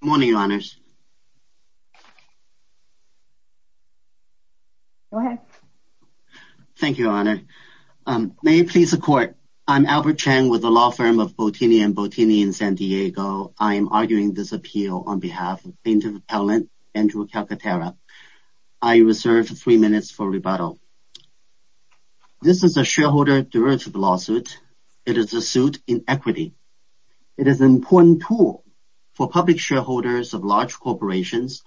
Good morning, your honors. Thank you, your honor. May it please the court. I'm Albert Chang with the law firm of Bottini and Bottini in San Diego. I am arguing this appeal on behalf of plaintiff appellant Andrew Calcaterra. I reserve three minutes for rebuttal. This is a shareholder-directed lawsuit. It is a suit in equity. It is an important tool for public shareholders of large corporations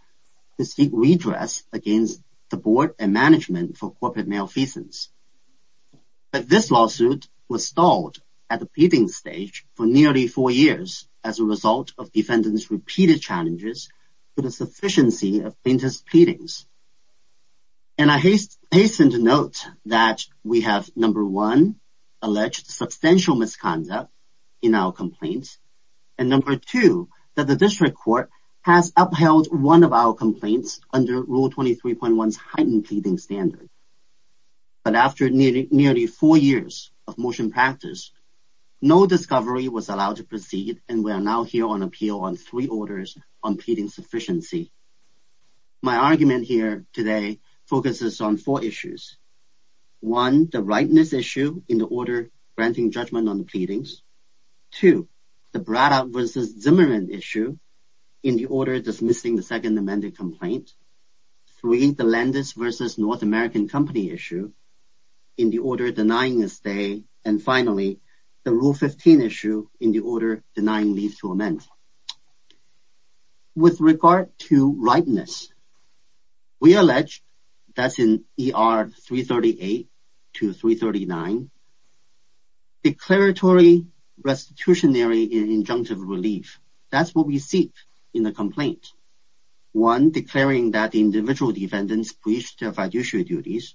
to seek redress against the board and management for corporate malfeasance. But this lawsuit was stalled at the pleading stage for nearly four years as a result of defendants repeated challenges to the sufficiency of plaintiff's pleadings. And I hasten to note that we have number one alleged substantial misconduct in our complaints, and number two that the district court has upheld one of our complaints under Rule 23.1's heightened pleading standard. But after nearly four years of motion practice, no discovery was allowed to proceed and we are now here on appeal on three orders on pleading sufficiency. My argument here today focuses on four issues. One, the rightness issue in the order granting judgment on the pleadings. Two, the Brada v. Zimmerman issue in the order dismissing the Second Amendment complaint. Three, the Landis v. North American Company issue in the order denying a stay. And finally, the Rule 15 issue in the order denying leave to amend. With regard to rightness, we have three issues under Rule 239. Declaratory, restitutionary, and injunctive relief. That's what we seek in the complaint. One, declaring that the individual defendants breached fiduciary duties.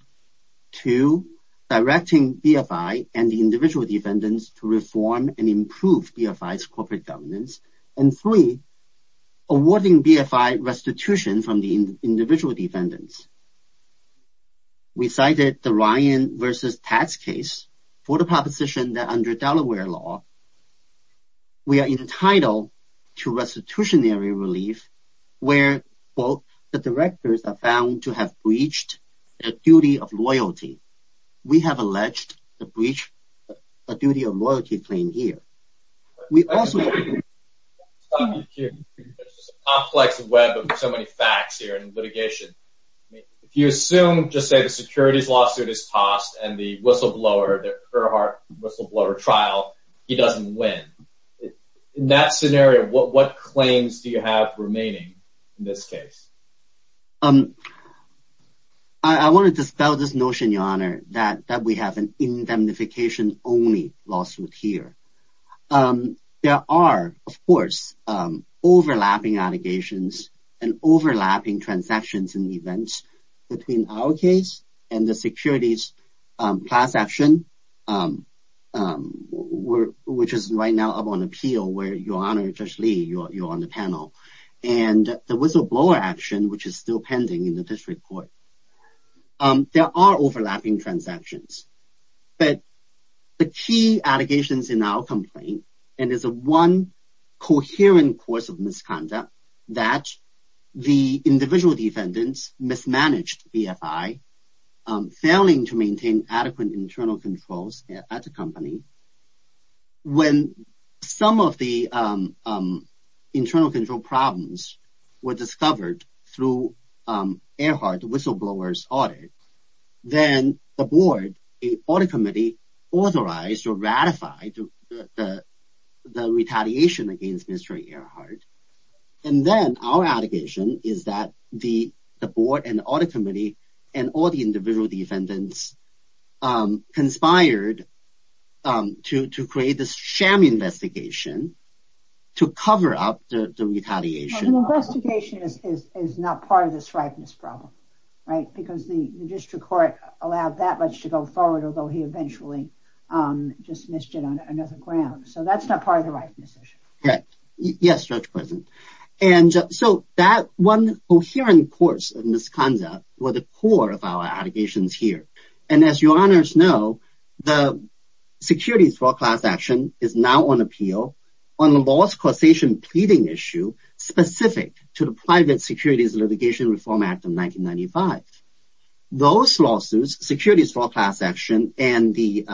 Two, directing BFI and the individual defendants to reform and improve BFI's corporate governance. And three, awarding BFI restitution from the individual defendants. We cited the Ryan v. Tax case for the proposition that under Delaware law, we are entitled to restitutionary relief where, quote, the directors are found to have breached a duty of loyalty. We have alleged the reach a duty of loyalty claim here. We also assume just say the securities lawsuit is tossed and the whistleblower, the Kerrhart whistleblower trial, he doesn't win. In that scenario, what claims do you have remaining in this case? I wanted to spell this notion, Your Honor, that we have an indemnification-only lawsuit here. There are, of course, overlapping allegations and overlapping transactions and events between our case and the securities class action, which is right now up on appeal where, Your Honor, Judge Lee, you're on the panel. And the whistleblower action, which is still But the key allegations in our complaint, and it's a one coherent course of misconduct, that the individual defendants mismanaged BFI, failing to maintain adequate internal controls at the company. When some of the internal control problems were discovered through Earhart whistleblowers audit, then the audit committee authorized or ratified the retaliation against Mr. Earhart. And then our allegation is that the board and audit committee and all the individual defendants conspired to create this sham investigation to cover up the retaliation. The investigation is not part of this problem, right? Because the district court allowed that much to go forward, although he eventually just missed it on another ground. So that's not part of the rightness issue. Yes, Judge Preston. And so that one coherent course of misconduct were the core of our allegations here. And as Your Honors know, the securities law class action is now on appeal on the law's causation pleading issue specific to the Private Securities Litigation Reform Act of 1995. Those lawsuits, securities law class action and the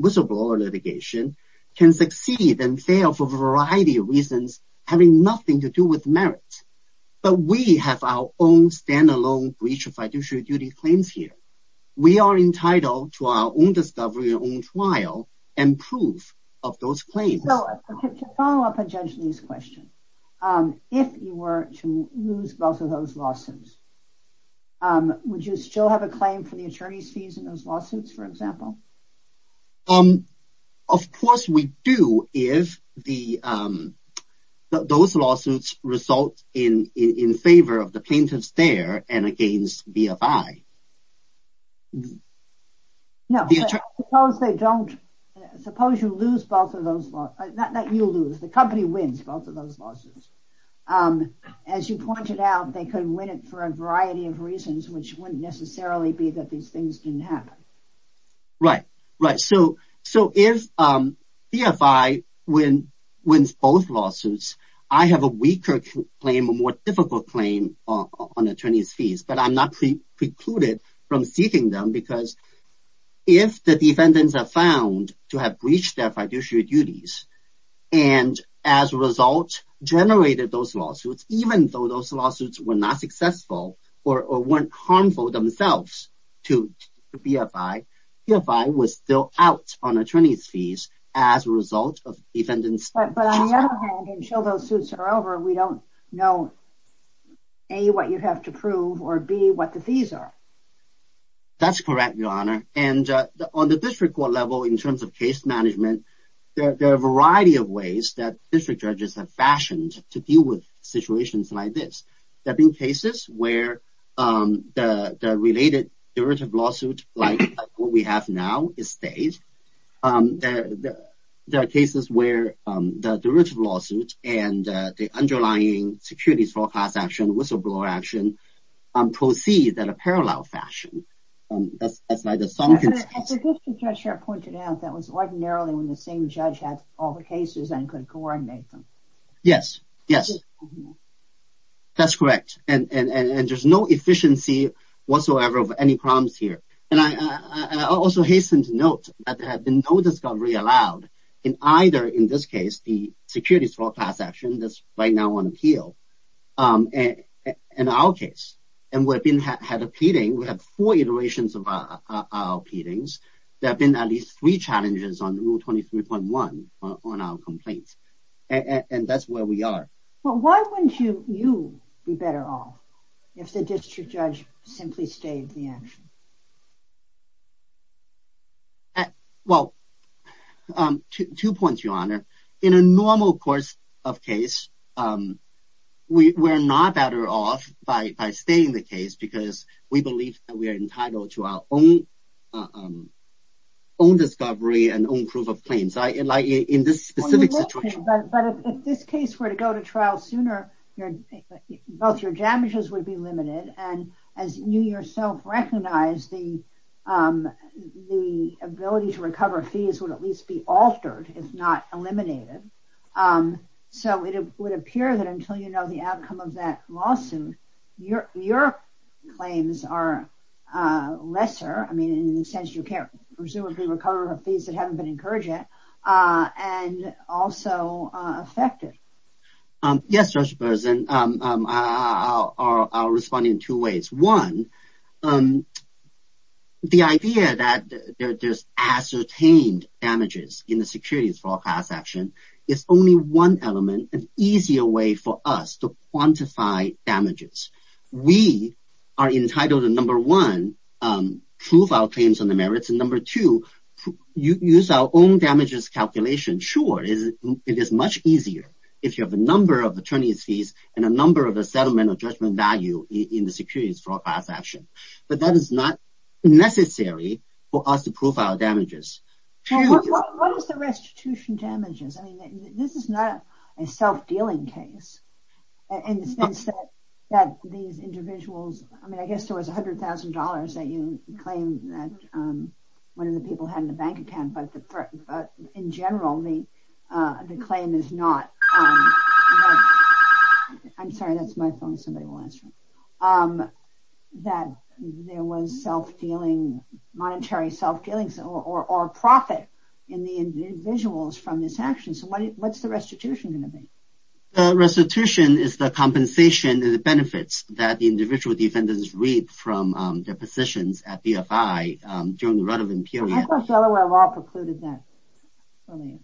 whistleblower litigation, can succeed and fail for a variety of reasons having nothing to do with merit. But we have our own standalone breach of fiduciary duty claims here. We are If you were to lose both of those lawsuits, would you still have a claim for the attorney's fees in those lawsuits, for example? Of course we do if those lawsuits result in in favor of the plaintiffs there and against BFI. No, suppose you lose both of those lawsuits, not that you lose, the company wins both of those lawsuits. As you pointed out, they could win it for a variety of reasons which wouldn't necessarily be that these things didn't happen. Right, right. So if BFI wins both lawsuits, I have a weaker claim, a more difficult claim on attorney's fees, but I'm not precluded from seeking them because if the defendants are found to have breached their fiduciary duties and as a result generated those lawsuits, even though those lawsuits were not successful or weren't harmful themselves to BFI, BFI was still out on attorney's fees as a result of defendants. But on the other hand, until those suits are over, we don't know A, what you have to prove or B, what the fees are. That's correct, your honor. And on the district judges have fashioned to deal with situations like this. There have been cases where the related derivative lawsuit like what we have now is staged. There are cases where the derivative lawsuit and the underlying securities forecast action, whistleblower action proceed in a parallel fashion. As the district judge here pointed out, that was ordinarily when the same judge had all the cases and could coordinate them. Yes, yes, that's correct. And there's no efficiency whatsoever of any problems here. And I also hasten to note that there have been no discovery allowed in either, in this case, the securities forecast action that's right now on appeal in our case. And we've been had a pleading, we have four iterations of our pleadings. There have been at least three challenges on rule 23.1 on our complaints. And that's where we are. Well, why wouldn't you, you be better off if the district judge simply stayed the action? Well, two points, your honor. In a normal course of case, we're not better off by staying the case because we believe that we are entitled to our own own discovery and own proof of claims. Like in this specific situation. But if this case were to go to trial sooner, both your damages would be limited. And as you yourself recognize, the ability to recover fees would at least be altered, if not eliminated. So it would appear that until the outcome of that lawsuit, your claims are lesser. I mean, in the sense you can't presumably recover fees that haven't been encouraged yet and also affected. Yes, Judge Berzin, I'll respond in two ways. One, the idea that there's ascertained in the securities fraud class action is only one element, an easier way for us to quantify damages. We are entitled to number one, prove our claims on the merits. And number two, use our own damages calculation. Sure, it is much easier if you have a number of attorney's fees and a number of a settlement of judgment value in the securities fraud class action. But that is not necessary for us to prove our damages. What is the restitution damages? I mean, this is not a self-dealing case in the sense that these individuals, I mean, I guess there was $100,000 that you claim that one of the people had in the bank account, but in general, the claim is not. I'm sorry, that's my phone, somebody will answer. That there was self-dealing, monetary self-dealings or profit in the individuals from this action. So what's the restitution going to be? The restitution is the compensation and the benefits that the individual defendants reap from their positions at BFI during the relevant period. I thought Delaware law precluded that. I mean,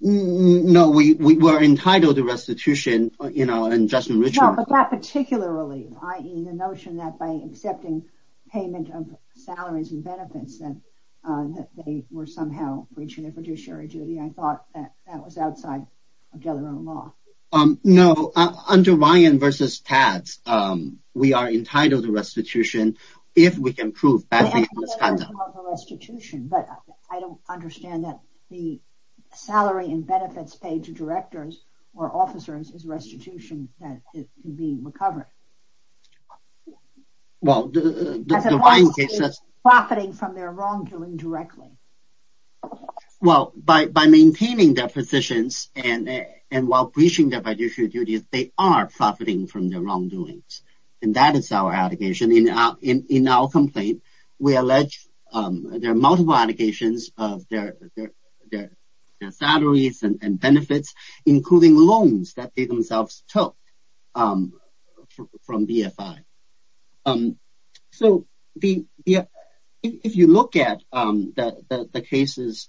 no, we were entitled to restitution, you know, and just in that particular relief, i.e. the notion that by accepting payment of salaries and benefits that they were somehow breaching their fiduciary duty. I thought that that was outside of Delaware law. No, under Ryan versus Tad's, we are entitled to restitution if we can prove that. Restitution, but I don't understand that the salary and benefits paid to directors or officers is restitution that can be recovered. Well, the Ryan case says... Profiting from their wrongdoing directly. Well, by maintaining their positions and while breaching their fiduciary duties, they are profiting from their wrongdoings. And that is our allegation. In our complaint, we allege there are multiple allegations of their salaries and benefits, including loans that they themselves took from BFI. So, if you look at the cases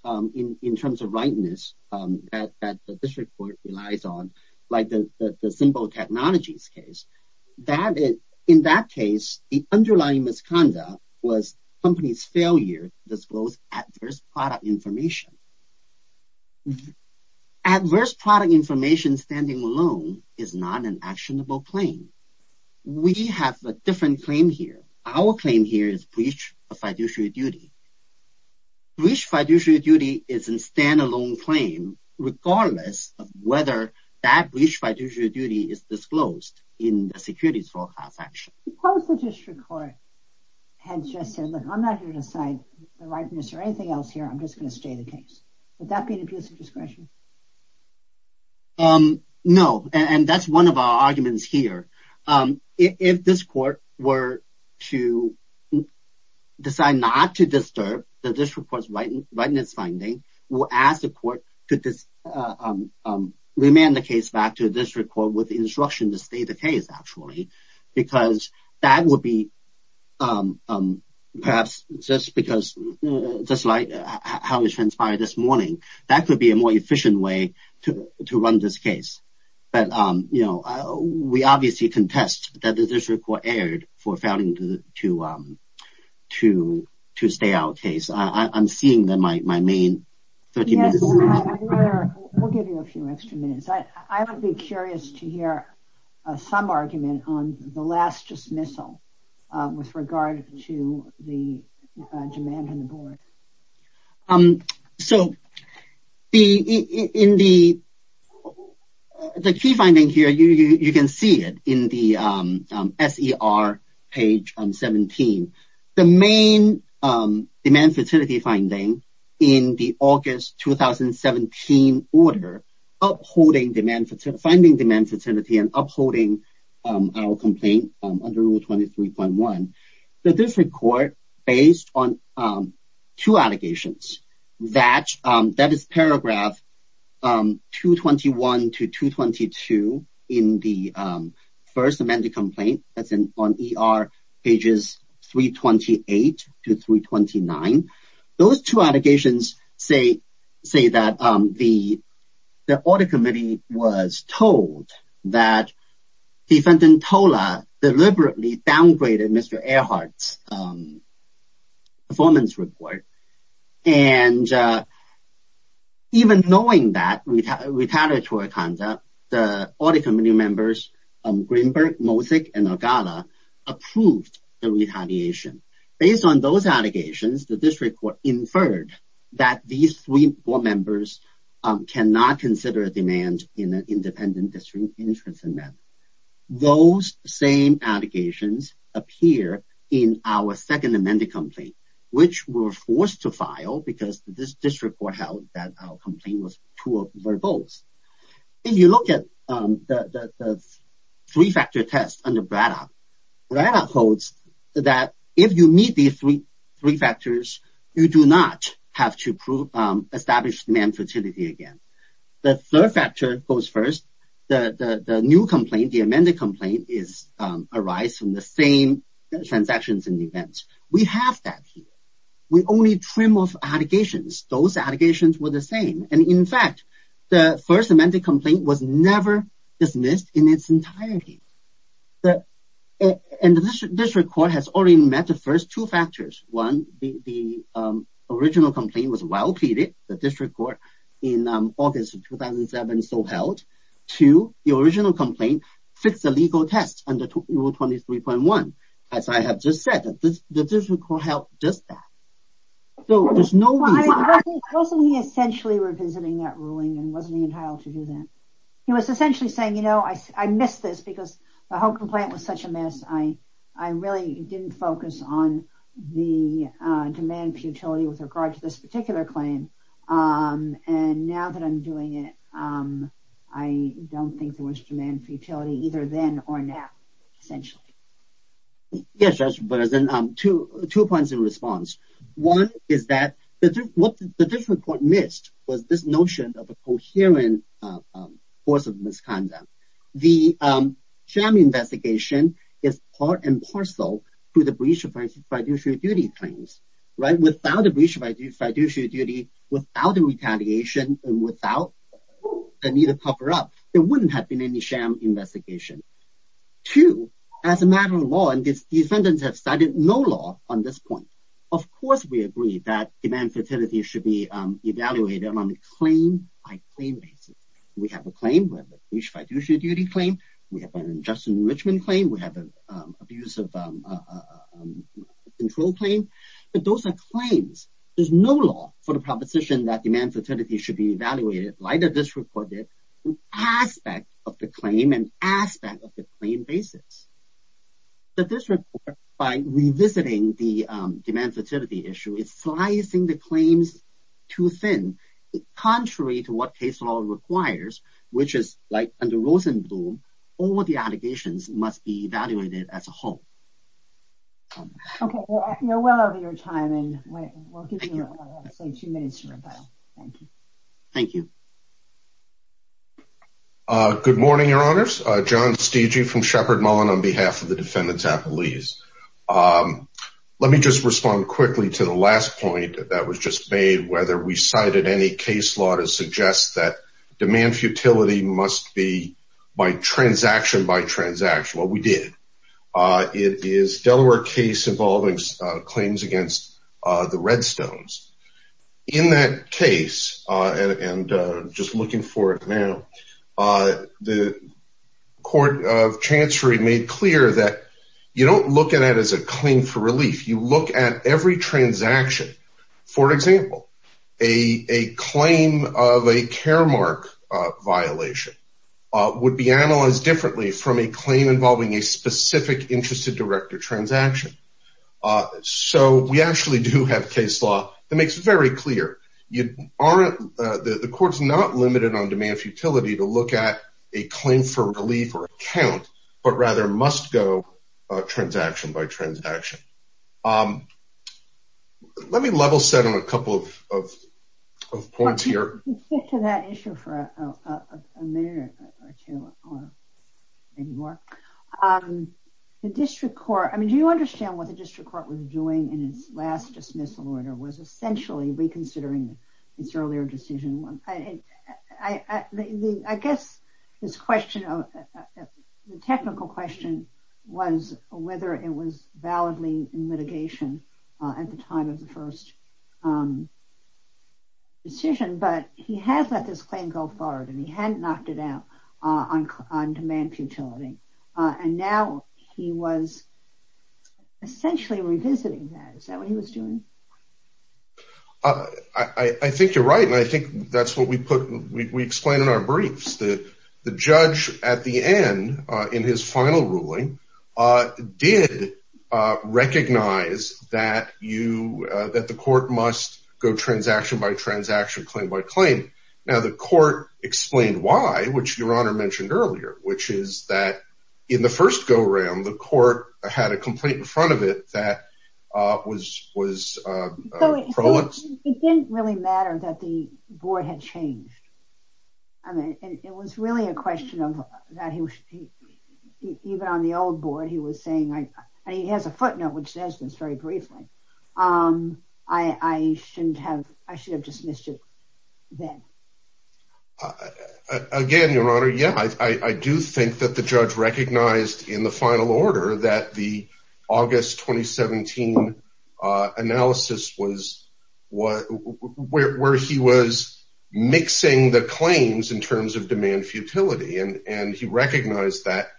in terms of rightness that this report relies on, like the simple technologies case, in that case, the underlying misconduct was company's failure to disclose adverse product information. Adverse product information standing alone is not an actionable claim. We have a different claim here. Our claim here is breach of fiduciary duty. Breach of fiduciary duty is a standalone claim regardless of whether that breach of fiduciary duty is disclosed in the securities forecast action. Suppose the district court had just said, look, I'm not here to decide the rightness or anything else here. I'm just going to stay the case. Would that be an abuse of discretion? No, and that's one of our arguments here. If this court were to decide not to disturb the district court's rightness finding, we'll ask the court to remand the case back to the district court with the instruction to stay the case, actually, because that would be perhaps just like how it transpired this morning. That could be a more efficient way to run this case. But, you know, we obviously contest that the district court erred for failing to stay our case. I'm seeing that my main 30 minutes is up. We'll give you a few extra minutes. I would be curious to hear some argument on the last dismissal with regard to the demand on the board. So, the key finding here, you can see it in the SER page 17. The main demand fertility finding in the August 2017 order, finding demand fertility and upholding our complaint under Rule 23.1, the district court based on two allegations. That is paragraph 221 to 222 in the first amended complaint. That's on ER pages 328 to 329. Those two allegations say that the audit committee was told that defendant Tola deliberately downgraded Mr. Earhart's performance report. And even knowing that retaliatory conduct, the audit committee members, Greenberg, Mosick, and Algala approved the retaliation. Based on those allegations, the district court inferred that these three board members cannot consider a demand in an independent district interest amendment. Those same allegations appear in our second amended complaint, which we were forced to file because this district court held that our complaint was too verbose. If you look at the three-factor test under Braddock, Braddock holds that if you meet these three factors, you do not have to establish demand fertility again. The third factor goes first. The new complaint, the amended complaint is arise from the same transactions and events. We have that here. We only trim off allegations. Those allegations were the same. And in fact, the first amended complaint was never dismissed in its entirety. And the district court has already met the first two factors. One, the original complaint was well pleaded. The district court in August of 2007 still held. Two, the original complaint fits the legal test under rule 23.1. As I have just said, the district court held just that. So there's no reason. Wasn't he essentially revisiting that ruling and wasn't he entitled to do that? He was essentially saying, you know, I missed this because the whole complaint was such a mess. I really didn't focus on the demand for utility with regard to this particular claim. And now that I'm doing it, I don't think there was demand for utility either then or now. Essentially. Yes, that's two points in response. One is that what the district court missed was this notion of a coherent force of misconduct. The JAMA investigation is part and parcel to the breach of fiduciary duty claims, right? Without the breach of fiduciary duty, without the retaliation, and without the need to cover up, there wouldn't have been any JAMA investigation. Two, as a matter of law, and these defendants have cited no law on this point. Of course, we agree that demand for utility should be evaluated on a claim by claim basis. We have a claim with a breach of fiduciary duty claim. We have an injustice enrichment claim. We have an abuse of control claim. But those are claims. There's no law for the proposition that demand for utility should be evaluated like the district court did with aspect of the claim and aspect of the claim basis. The district court, by revisiting the demand for utility issue, is slicing the claims too thin. Contrary to what case law requires, which is like under Rosenblum, all the allegations must be evaluated as a whole. Okay, we're well over your time, and we'll give you, I'd say, two minutes to rebuttal. Thank you. Thank you. Good morning, your honors. John Steegey from Shepard Mullen on behalf of the defendants' appellees. Let me just respond quickly to the last point that was just made, whether we cited any case law to suggest that demand for utility must be by transaction by transaction. Well, we did. Delaware case involving claims against the Redstones. In that case, and just looking for it now, the court of Chancery made clear that you don't look at it as a claim for relief. You look at every transaction. For example, a claim of a care mark violation would be analyzed differently from a claim involving a specific interest of director transaction. So we actually do have case law that makes it very clear. The court's not limited on demand for utility to look at a claim for relief or account, but rather must go transaction by transaction. Let me level set on a couple of points here. Stick to that issue for a minute or two, or maybe more. The district court, I mean, do you understand what the district court was doing in its last dismissal order was essentially reconsidering its earlier decision? I guess the technical question was whether it was validly in litigation at the time of the first decision. But he has let this claim go forward and he hadn't knocked it out on demand for utility. And now he was essentially revisiting that. Is that what he was doing? I think you're right. And I think that's what we put, we explain in our briefs that the judge at the end in his final ruling did recognize that you that the court must go transaction by transaction claim by claim. Now, the court explained why, which your honor mentioned earlier, which is that in the first go round, the court had a complaint in front of it that was was. It didn't really matter that the board had changed. I mean, it was really a question of that. Even on the old board, he was saying he has a footnote, which says this very briefly. Um, I shouldn't have. I should have dismissed it then. Again, your honor. Yeah, I do think that the judge recognized in the final order that the August 2017 analysis was what where he was mixing the claims in terms of demand futility. And he recognized that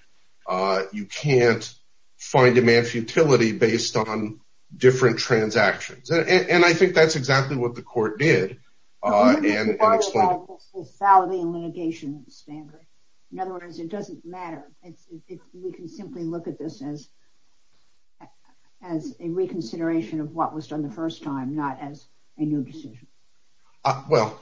you can't find demand futility based on different transactions. And I think that's exactly what the court did. And it's about the litigation standard. In other words, it doesn't matter if we can simply look at this as as a reconsideration of what was done the first time, not as a new decision. Well,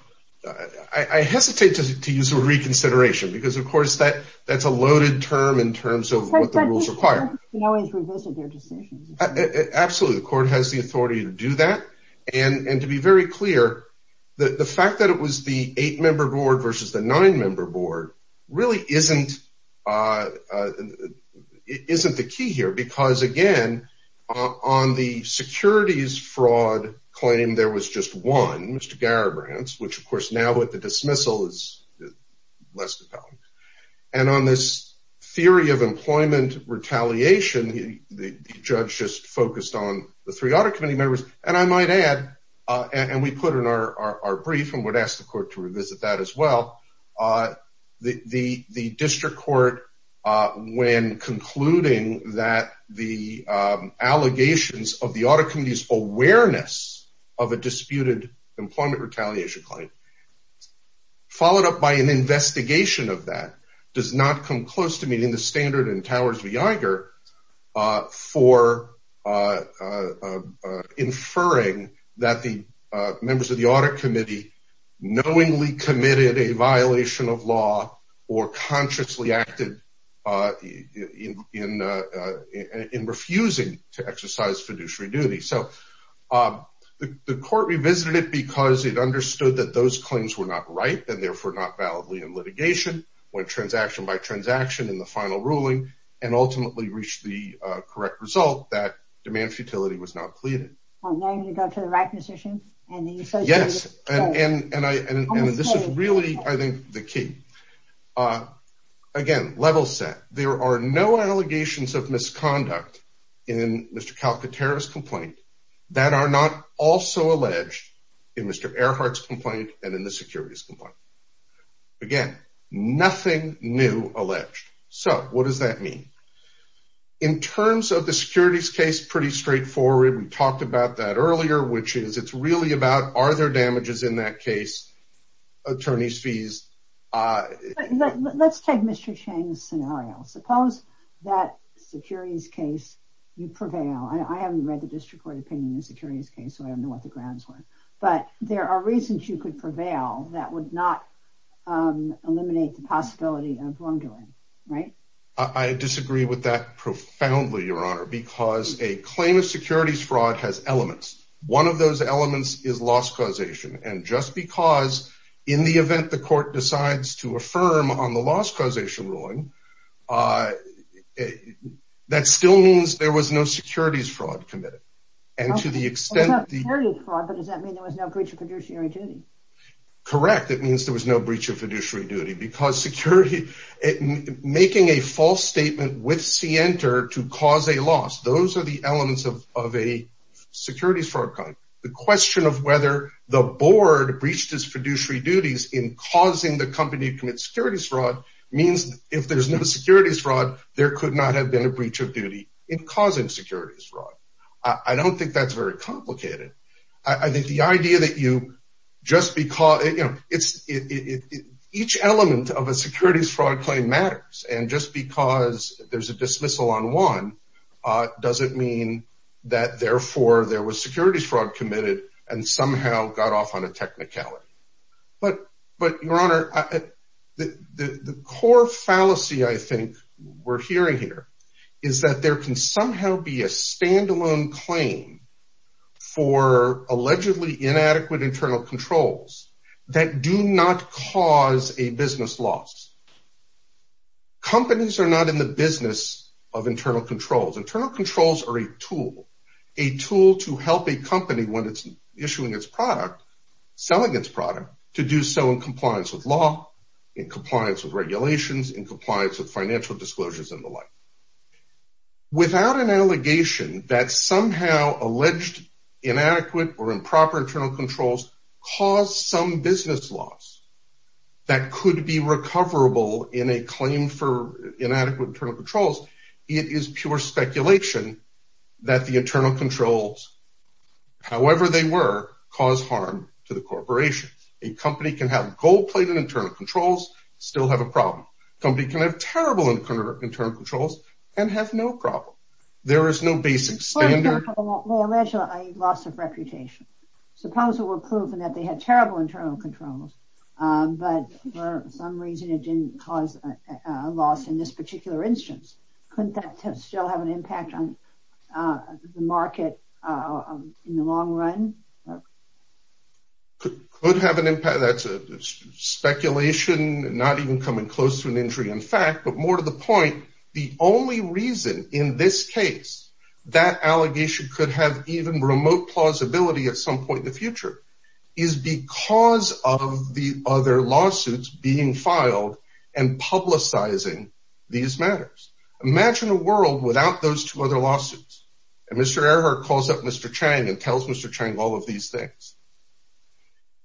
I hesitate to use a reconsideration because, of course, that that's a loaded term in terms of what the rules require. Absolutely. The court has the authority to do that. And to be very clear, the fact that it was the eight member board versus the nine member board really isn't isn't the key here, because, again, on the securities fraud claim, there was just one, Mr. Garibrands, which, of course, now with the dismissal is less. And on this theory of employment retaliation, the judge just focused on the three other committee members. And I might add, and we put in our brief and would ask the court to revisit that as well. The district court, when concluding that the allegations of the audit committee's awareness of a disputed employment retaliation claim. Followed up by an investigation of that does not come close to meeting the standard in Towers v. Iger for inferring that the members of the audit committee knowingly committed a violation of law or consciously acted in in refusing to exercise fiduciary duty. So the court revisited it because it understood that those claims were not right and therefore not validly in litigation when transaction by transaction in the final ruling and ultimately reached the correct result that demand futility was not pleaded to the right position. And yes, and this is really, I think, the key. Again, level set. There are no allegations of misconduct in Mr. Calcutta terrorist complaint that are not also alleged in Mr. Earhart's complaint and in the securities complaint. Again, nothing new alleged. So what does that mean? In terms of the securities case, pretty straightforward. We talked about that earlier, which is it's really about are there damages in that case? Attorney's fees. But let's take Mr. Chang's scenario. Suppose that securities case you prevail. I haven't read the district court opinion in the securities case, so I don't know what the grounds were, but there are reasons you could prevail that would not eliminate the possibility of wrongdoing, right? I disagree with that profoundly, Your Honor, because a claim of securities fraud has elements. One of those elements is loss causation. And just because in the event the court decides to affirm on the loss causation ruling, that still means there was no securities fraud committed. And to the extent... It's not securities fraud, but does that mean there was no breach of fiduciary duty? Correct. It means there was no breach of fiduciary duty because security, making a false statement with CNTR to cause a loss, those are the elements of a securities fraud claim. The question of whether the board breached his fiduciary duties in causing the company to commit securities fraud means if there's no securities fraud, there could not have been a breach of duty in causing securities fraud. I don't think that's very complicated. I think the idea that you just because... Each element of a securities fraud claim matters. And just because there's a dismissal on one doesn't mean that therefore there was securities fraud committed and somehow got off on a technicality. But Your Honor, the core fallacy I think we're hearing here is that there can somehow be a standalone claim for allegedly inadequate internal controls that do not cause a business loss. Companies are not in the business of internal controls. Internal controls are a tool, a tool to help a company when it's issuing its product, selling its product, to do so in compliance with law, in compliance with regulations, in compliance with financial disclosures and the like. Without an allegation that somehow alleged inadequate or improper internal controls cause some business loss that could be recoverable in a claim for inadequate internal controls, it is pure speculation that the internal controls, however they were, cause harm to the corporation. A company can have gold-plated internal controls, still have a problem. Company can have terrible internal controls and have no problem. There is no basic standard. Well, allegedly a loss of reputation. Suppose it were proven that they had terrible internal controls, but for some reason it caused a loss in this particular instance. Couldn't that still have an impact on the market in the long run? Could have an impact. That's a speculation, not even coming close to an injury in fact, but more to the point, the only reason in this case that allegation could have even remote plausibility at some and publicizing these matters. Imagine a world without those two other lawsuits. And Mr. Earhart calls up Mr. Chang and tells Mr. Chang all of these things.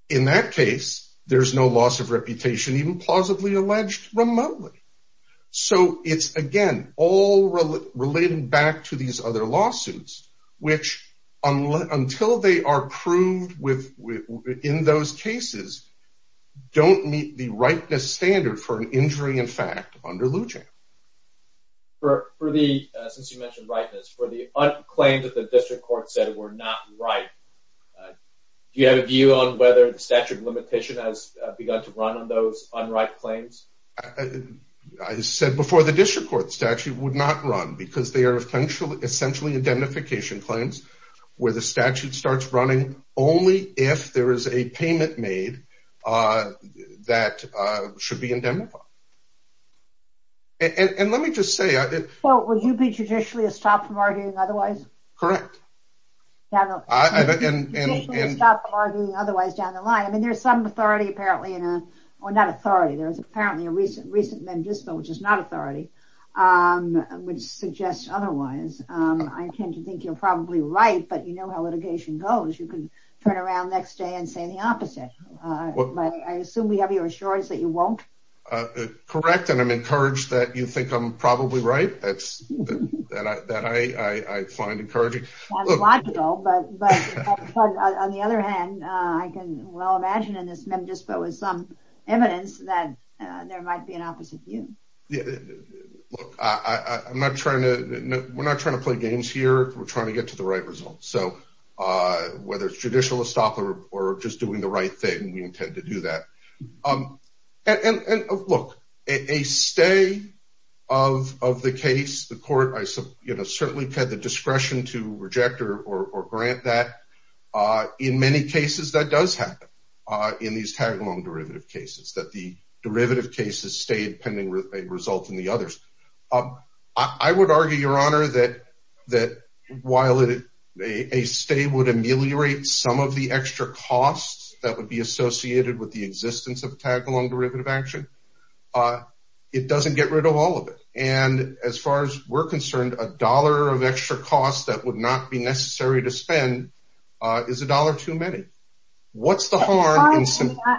In that case, there's no loss of reputation, even plausibly alleged remotely. So it's, again, all related back to these other lawsuits, which until they are proved in those cases, don't meet the rightness standard for an injury in fact under Lujan. Since you mentioned rightness, for the claims that the district court said were not right, do you have a view on whether the statute of limitation has begun to run on those unright claims? I said before the district court statute would not run because they are essentially indemnification claims where the statute starts running only if there is a payment made that should be indemnified. And let me just say- Well, would you be judicially a stop from arguing otherwise? Correct. Would you be a stop from arguing otherwise down the line? I mean, there's some authority apparently in a... Well, not authority. There's apparently a recent Mendisco, which is not authority, which suggests otherwise. I tend to think you're probably right, but you know how litigation goes. You can turn around next day and say the opposite. But I assume we have your assurance that you won't? Correct. And I'm encouraged that you think I'm probably right. That's that I find encouraging. That's logical, but on the other hand, I can well imagine in this Mendisco is some evidence that there might be an opposite view. Look, I'm not trying to... We're not trying to play games here. We're trying to get to the right results. So whether it's judicial a stop or just doing the right thing, we intend to do that. And look, a stay of the case, the court, I certainly had the discretion to reject or grant that in many cases that does happen in these tagalong derivative cases that the derivative cases stay pending a result in the others. I would argue, Your Honor, that while a stay would ameliorate some of the extra costs that would be associated with the existence of tagalong derivative action, it doesn't get rid of all of it. And as far as we're concerned, a dollar of extra costs that would not be necessary to spend is a dollar too many. What's the harm?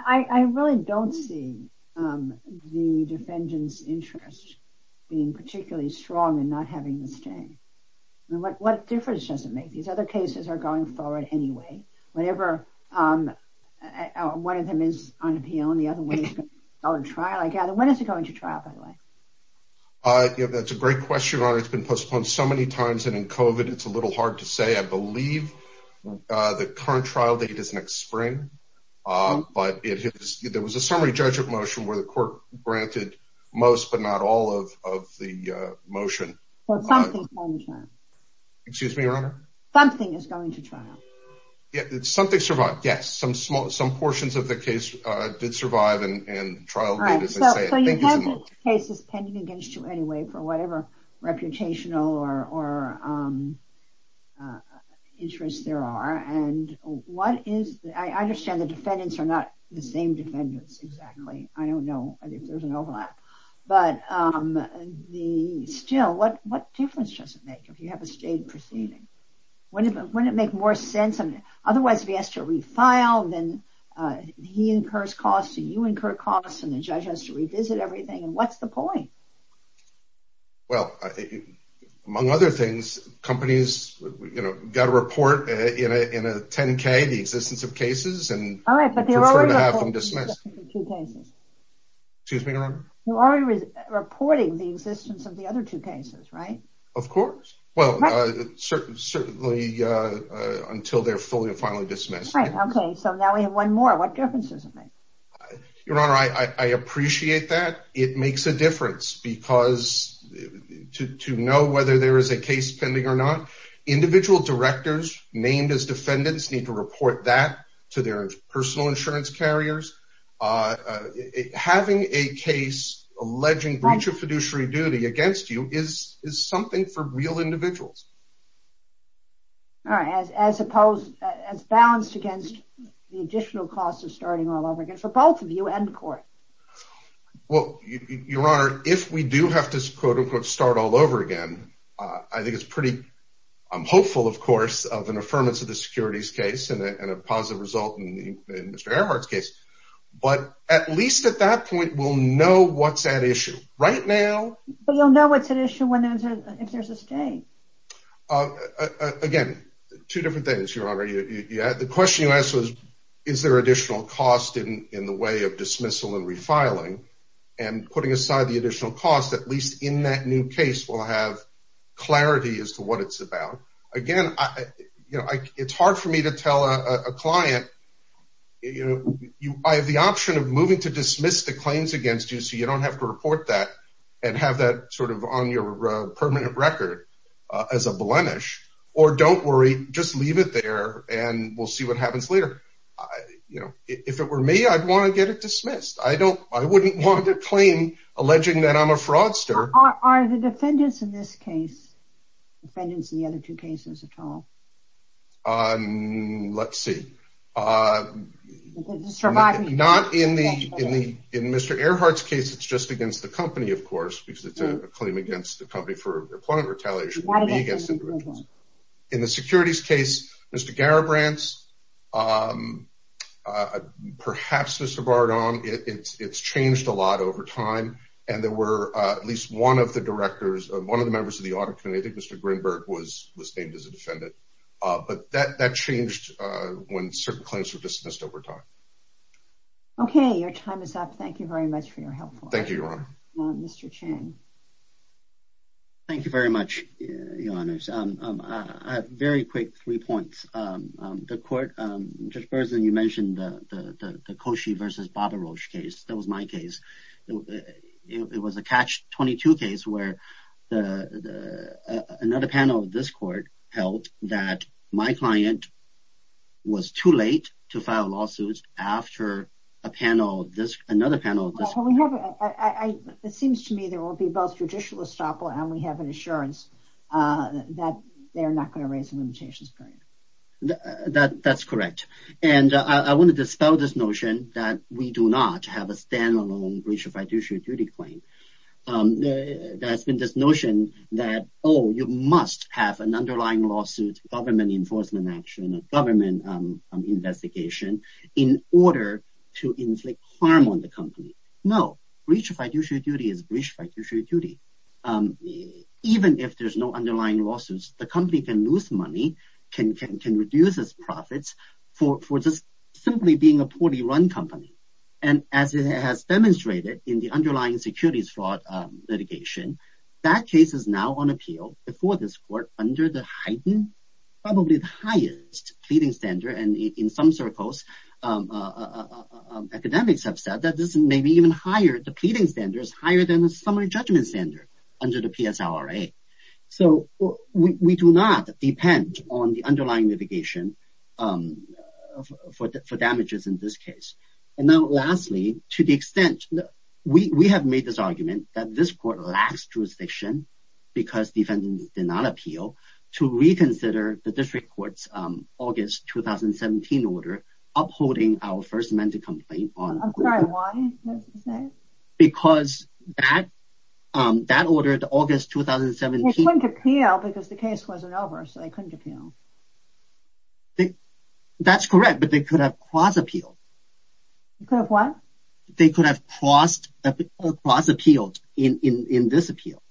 I really don't see the defendant's interest being particularly strong in not having the stay. What difference does it make? These other cases are going forward anyway. Whenever one of them is on appeal and the other one is on trial, I gather. When is it going to trial, by the way? That's a great question, Your Honor. It's been postponed so many times. And in COVID, it's a little hard to say. I believe the current trial date is next spring. But there was a summary judgment motion where the court granted most, but not all of the motion. So something's going to trial. Excuse me, Your Honor? Something is going to trial. Something survived, yes. Some portions of the case did survive and trial date, as they say. So you have cases pending against you anyway for whatever reputational or interests there are. And I understand the defendants are not the same defendants exactly. I don't know if there's an overlap. But still, what difference does it make if you have a stayed proceeding? Wouldn't it make more sense? Otherwise, if he has to refile, then he incurs costs, and you incur costs, and the judge has to revisit everything. And what's the point? Well, among other things, companies, you know, got a report in a 10-K, the existence of cases, and prefer to have them dismissed. Excuse me, Your Honor? You're already reporting the existence of the other two cases, right? Of course. Well, certainly until they're fully and finally dismissed. Right. Okay. So now we have one more. What difference does it make? Your Honor, I appreciate that. It makes a difference because to know whether there is a case pending or not, individual directors named as defendants need to report that to their personal insurance carriers. Having a case alleging breach of fiduciary duty against you is something for real individuals. All right. As opposed, as balanced against the additional costs of starting all over again, for both of you and the court. Well, Your Honor, if we do have to, quote, unquote, start all over again, I think it's pretty hopeful, of course, of an affirmance of the securities case and a positive result in Mr. Earhart's case. But at least at that point, we'll know what's at issue. Right now... But you'll know what's at issue if there's a stay. Again, two different things, Your Honor. The question you asked was, is there additional cost in the way of dismissal and refiling? And putting aside the additional cost, at least in that new case, we'll have clarity as to what it's about. Again, it's hard for me to tell a client, I have the option of moving to dismiss the claims against you so you don't have to report that and have that sort of on your permanent record as a blemish. Or don't worry, just leave it there and we'll see what happens later. If it were me, I'd want to get it dismissed. I wouldn't want a claim alleging that I'm a fraudster. Are the defendants in this case, defendants in the other two cases at all? Let's see. Not in Mr. Earhart's case, it's just against the company, of course, because it's a claim against the company for employment retaliation against individuals. In the securities case, Mr. Garibrandt, perhaps Mr. Bardone, it's changed a lot over time. And there were at least one of the directors, one of the members of the audit committee, I think Mr. Grinberg was named as a defendant. But that changed when certain claims were dismissed over time. Okay, your time is up. Thank you, Your Honor. Mr. Chen. Thank you very much, Your Honors. I have very quick three points. The court, Judge Berzin, you mentioned the Koshy versus Babarosh case. That was my case. It was a Catch-22 case where another panel of this court held that my client was too late to file lawsuits after another panel of this court. I, it seems to me there will be both judicial estoppel and we have an assurance that they're not going to raise the limitations period. That's correct. And I want to dispel this notion that we do not have a standalone breach of fiduciary duty claim. There has been this notion that, oh, you must have an underlying lawsuit, government enforcement action, a government investigation in order to inflict harm on the company. No, breach of fiduciary duty is breach of fiduciary duty. Even if there's no underlying lawsuits, the company can lose money, can reduce its profits for just simply being a poorly run company. And as it has demonstrated in the underlying securities fraud litigation, that case is now on appeal before this court under the heightened, probably the highest pleading standard. And in some circles, academics have said that this may be even higher. The pleading standard is higher than the summary judgment standard under the PSLRA. So we do not depend on the underlying litigation for damages in this case. And now lastly, to the extent that we have made this argument that this court lacks jurisdiction because defendants did not appeal, to reconsider the district court's August 2017 order upholding our first amended complaint on. I'm sorry, why? Because that ordered August 2017. They couldn't appeal because the case wasn't over, so they couldn't appeal. That's correct, but they could have cross appealed. Could have what? They could have crossed appealed in this appeal.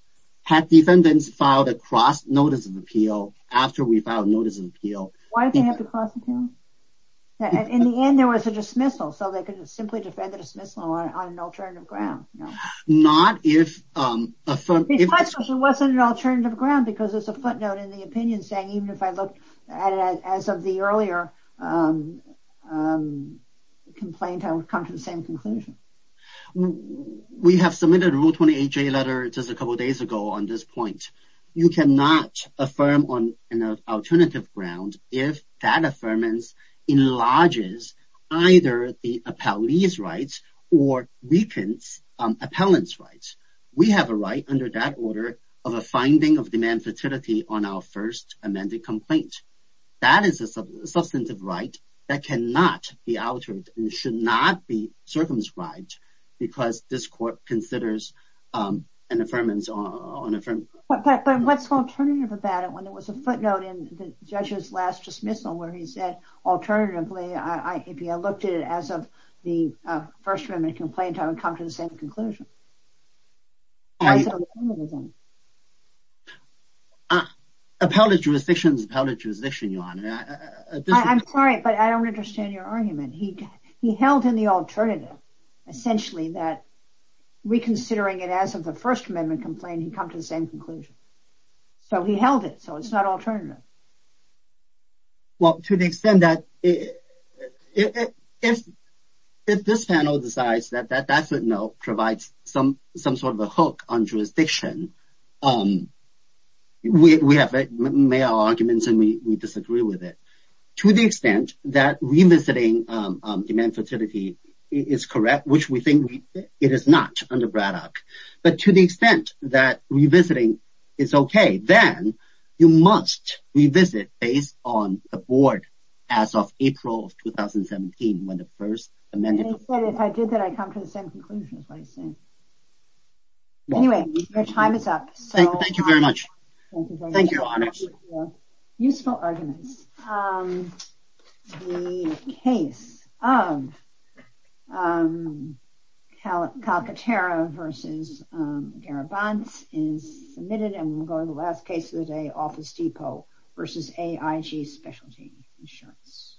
Had defendants filed a cross notice of appeal after we filed notice of appeal. Why did they have to cross appeal? In the end, there was a dismissal, so they could simply defend the dismissal on an alternative ground. Not if. It wasn't an alternative ground because there's a footnote in the opinion saying even if I looked at it as of the earlier complaint, I would come to the same conclusion. We have submitted a Rule 20HA letter just a couple of days ago on this point. You cannot affirm on an alternative ground if that affirmance enlarges either the appellee's rights or weakens appellant's rights. We have a right under that order of a finding of demand fertility on our first amended complaint. That is a substantive right that cannot be altered and should not be circumscribed because this court considers an affirmance on an affirmative ground. But what's alternative about it when there was a footnote in the judge's last dismissal where he said, alternatively, if you looked at it as of the first amendment complaint, I would come to the same conclusion. I'm sorry, but I don't understand your argument. He held in the alternative, essentially, that reconsidering it as of the first amendment complaint, he'd come to the same conclusion. So he held it. So it's not alternative. Well, to the extent that if this panel decides that that footnote provides some sort of a hook on jurisdiction, we have made our arguments and we disagree with it. To the extent that revisiting demand fertility is correct, which we think it is not under Braddock. But to the extent that revisiting is okay, then you must revisit based on the board as of April of 2017 when the first amendment. If I did that, I'd come to the same conclusion, is what he's saying. Anyway, your time is up. Thank you very much. Thank you, Your Honors. Useful arguments. The case of Calcaterra v. Garabanz is submitted and we'll go to the last case of the day, Office Depot v. AIG Specialty Insurance.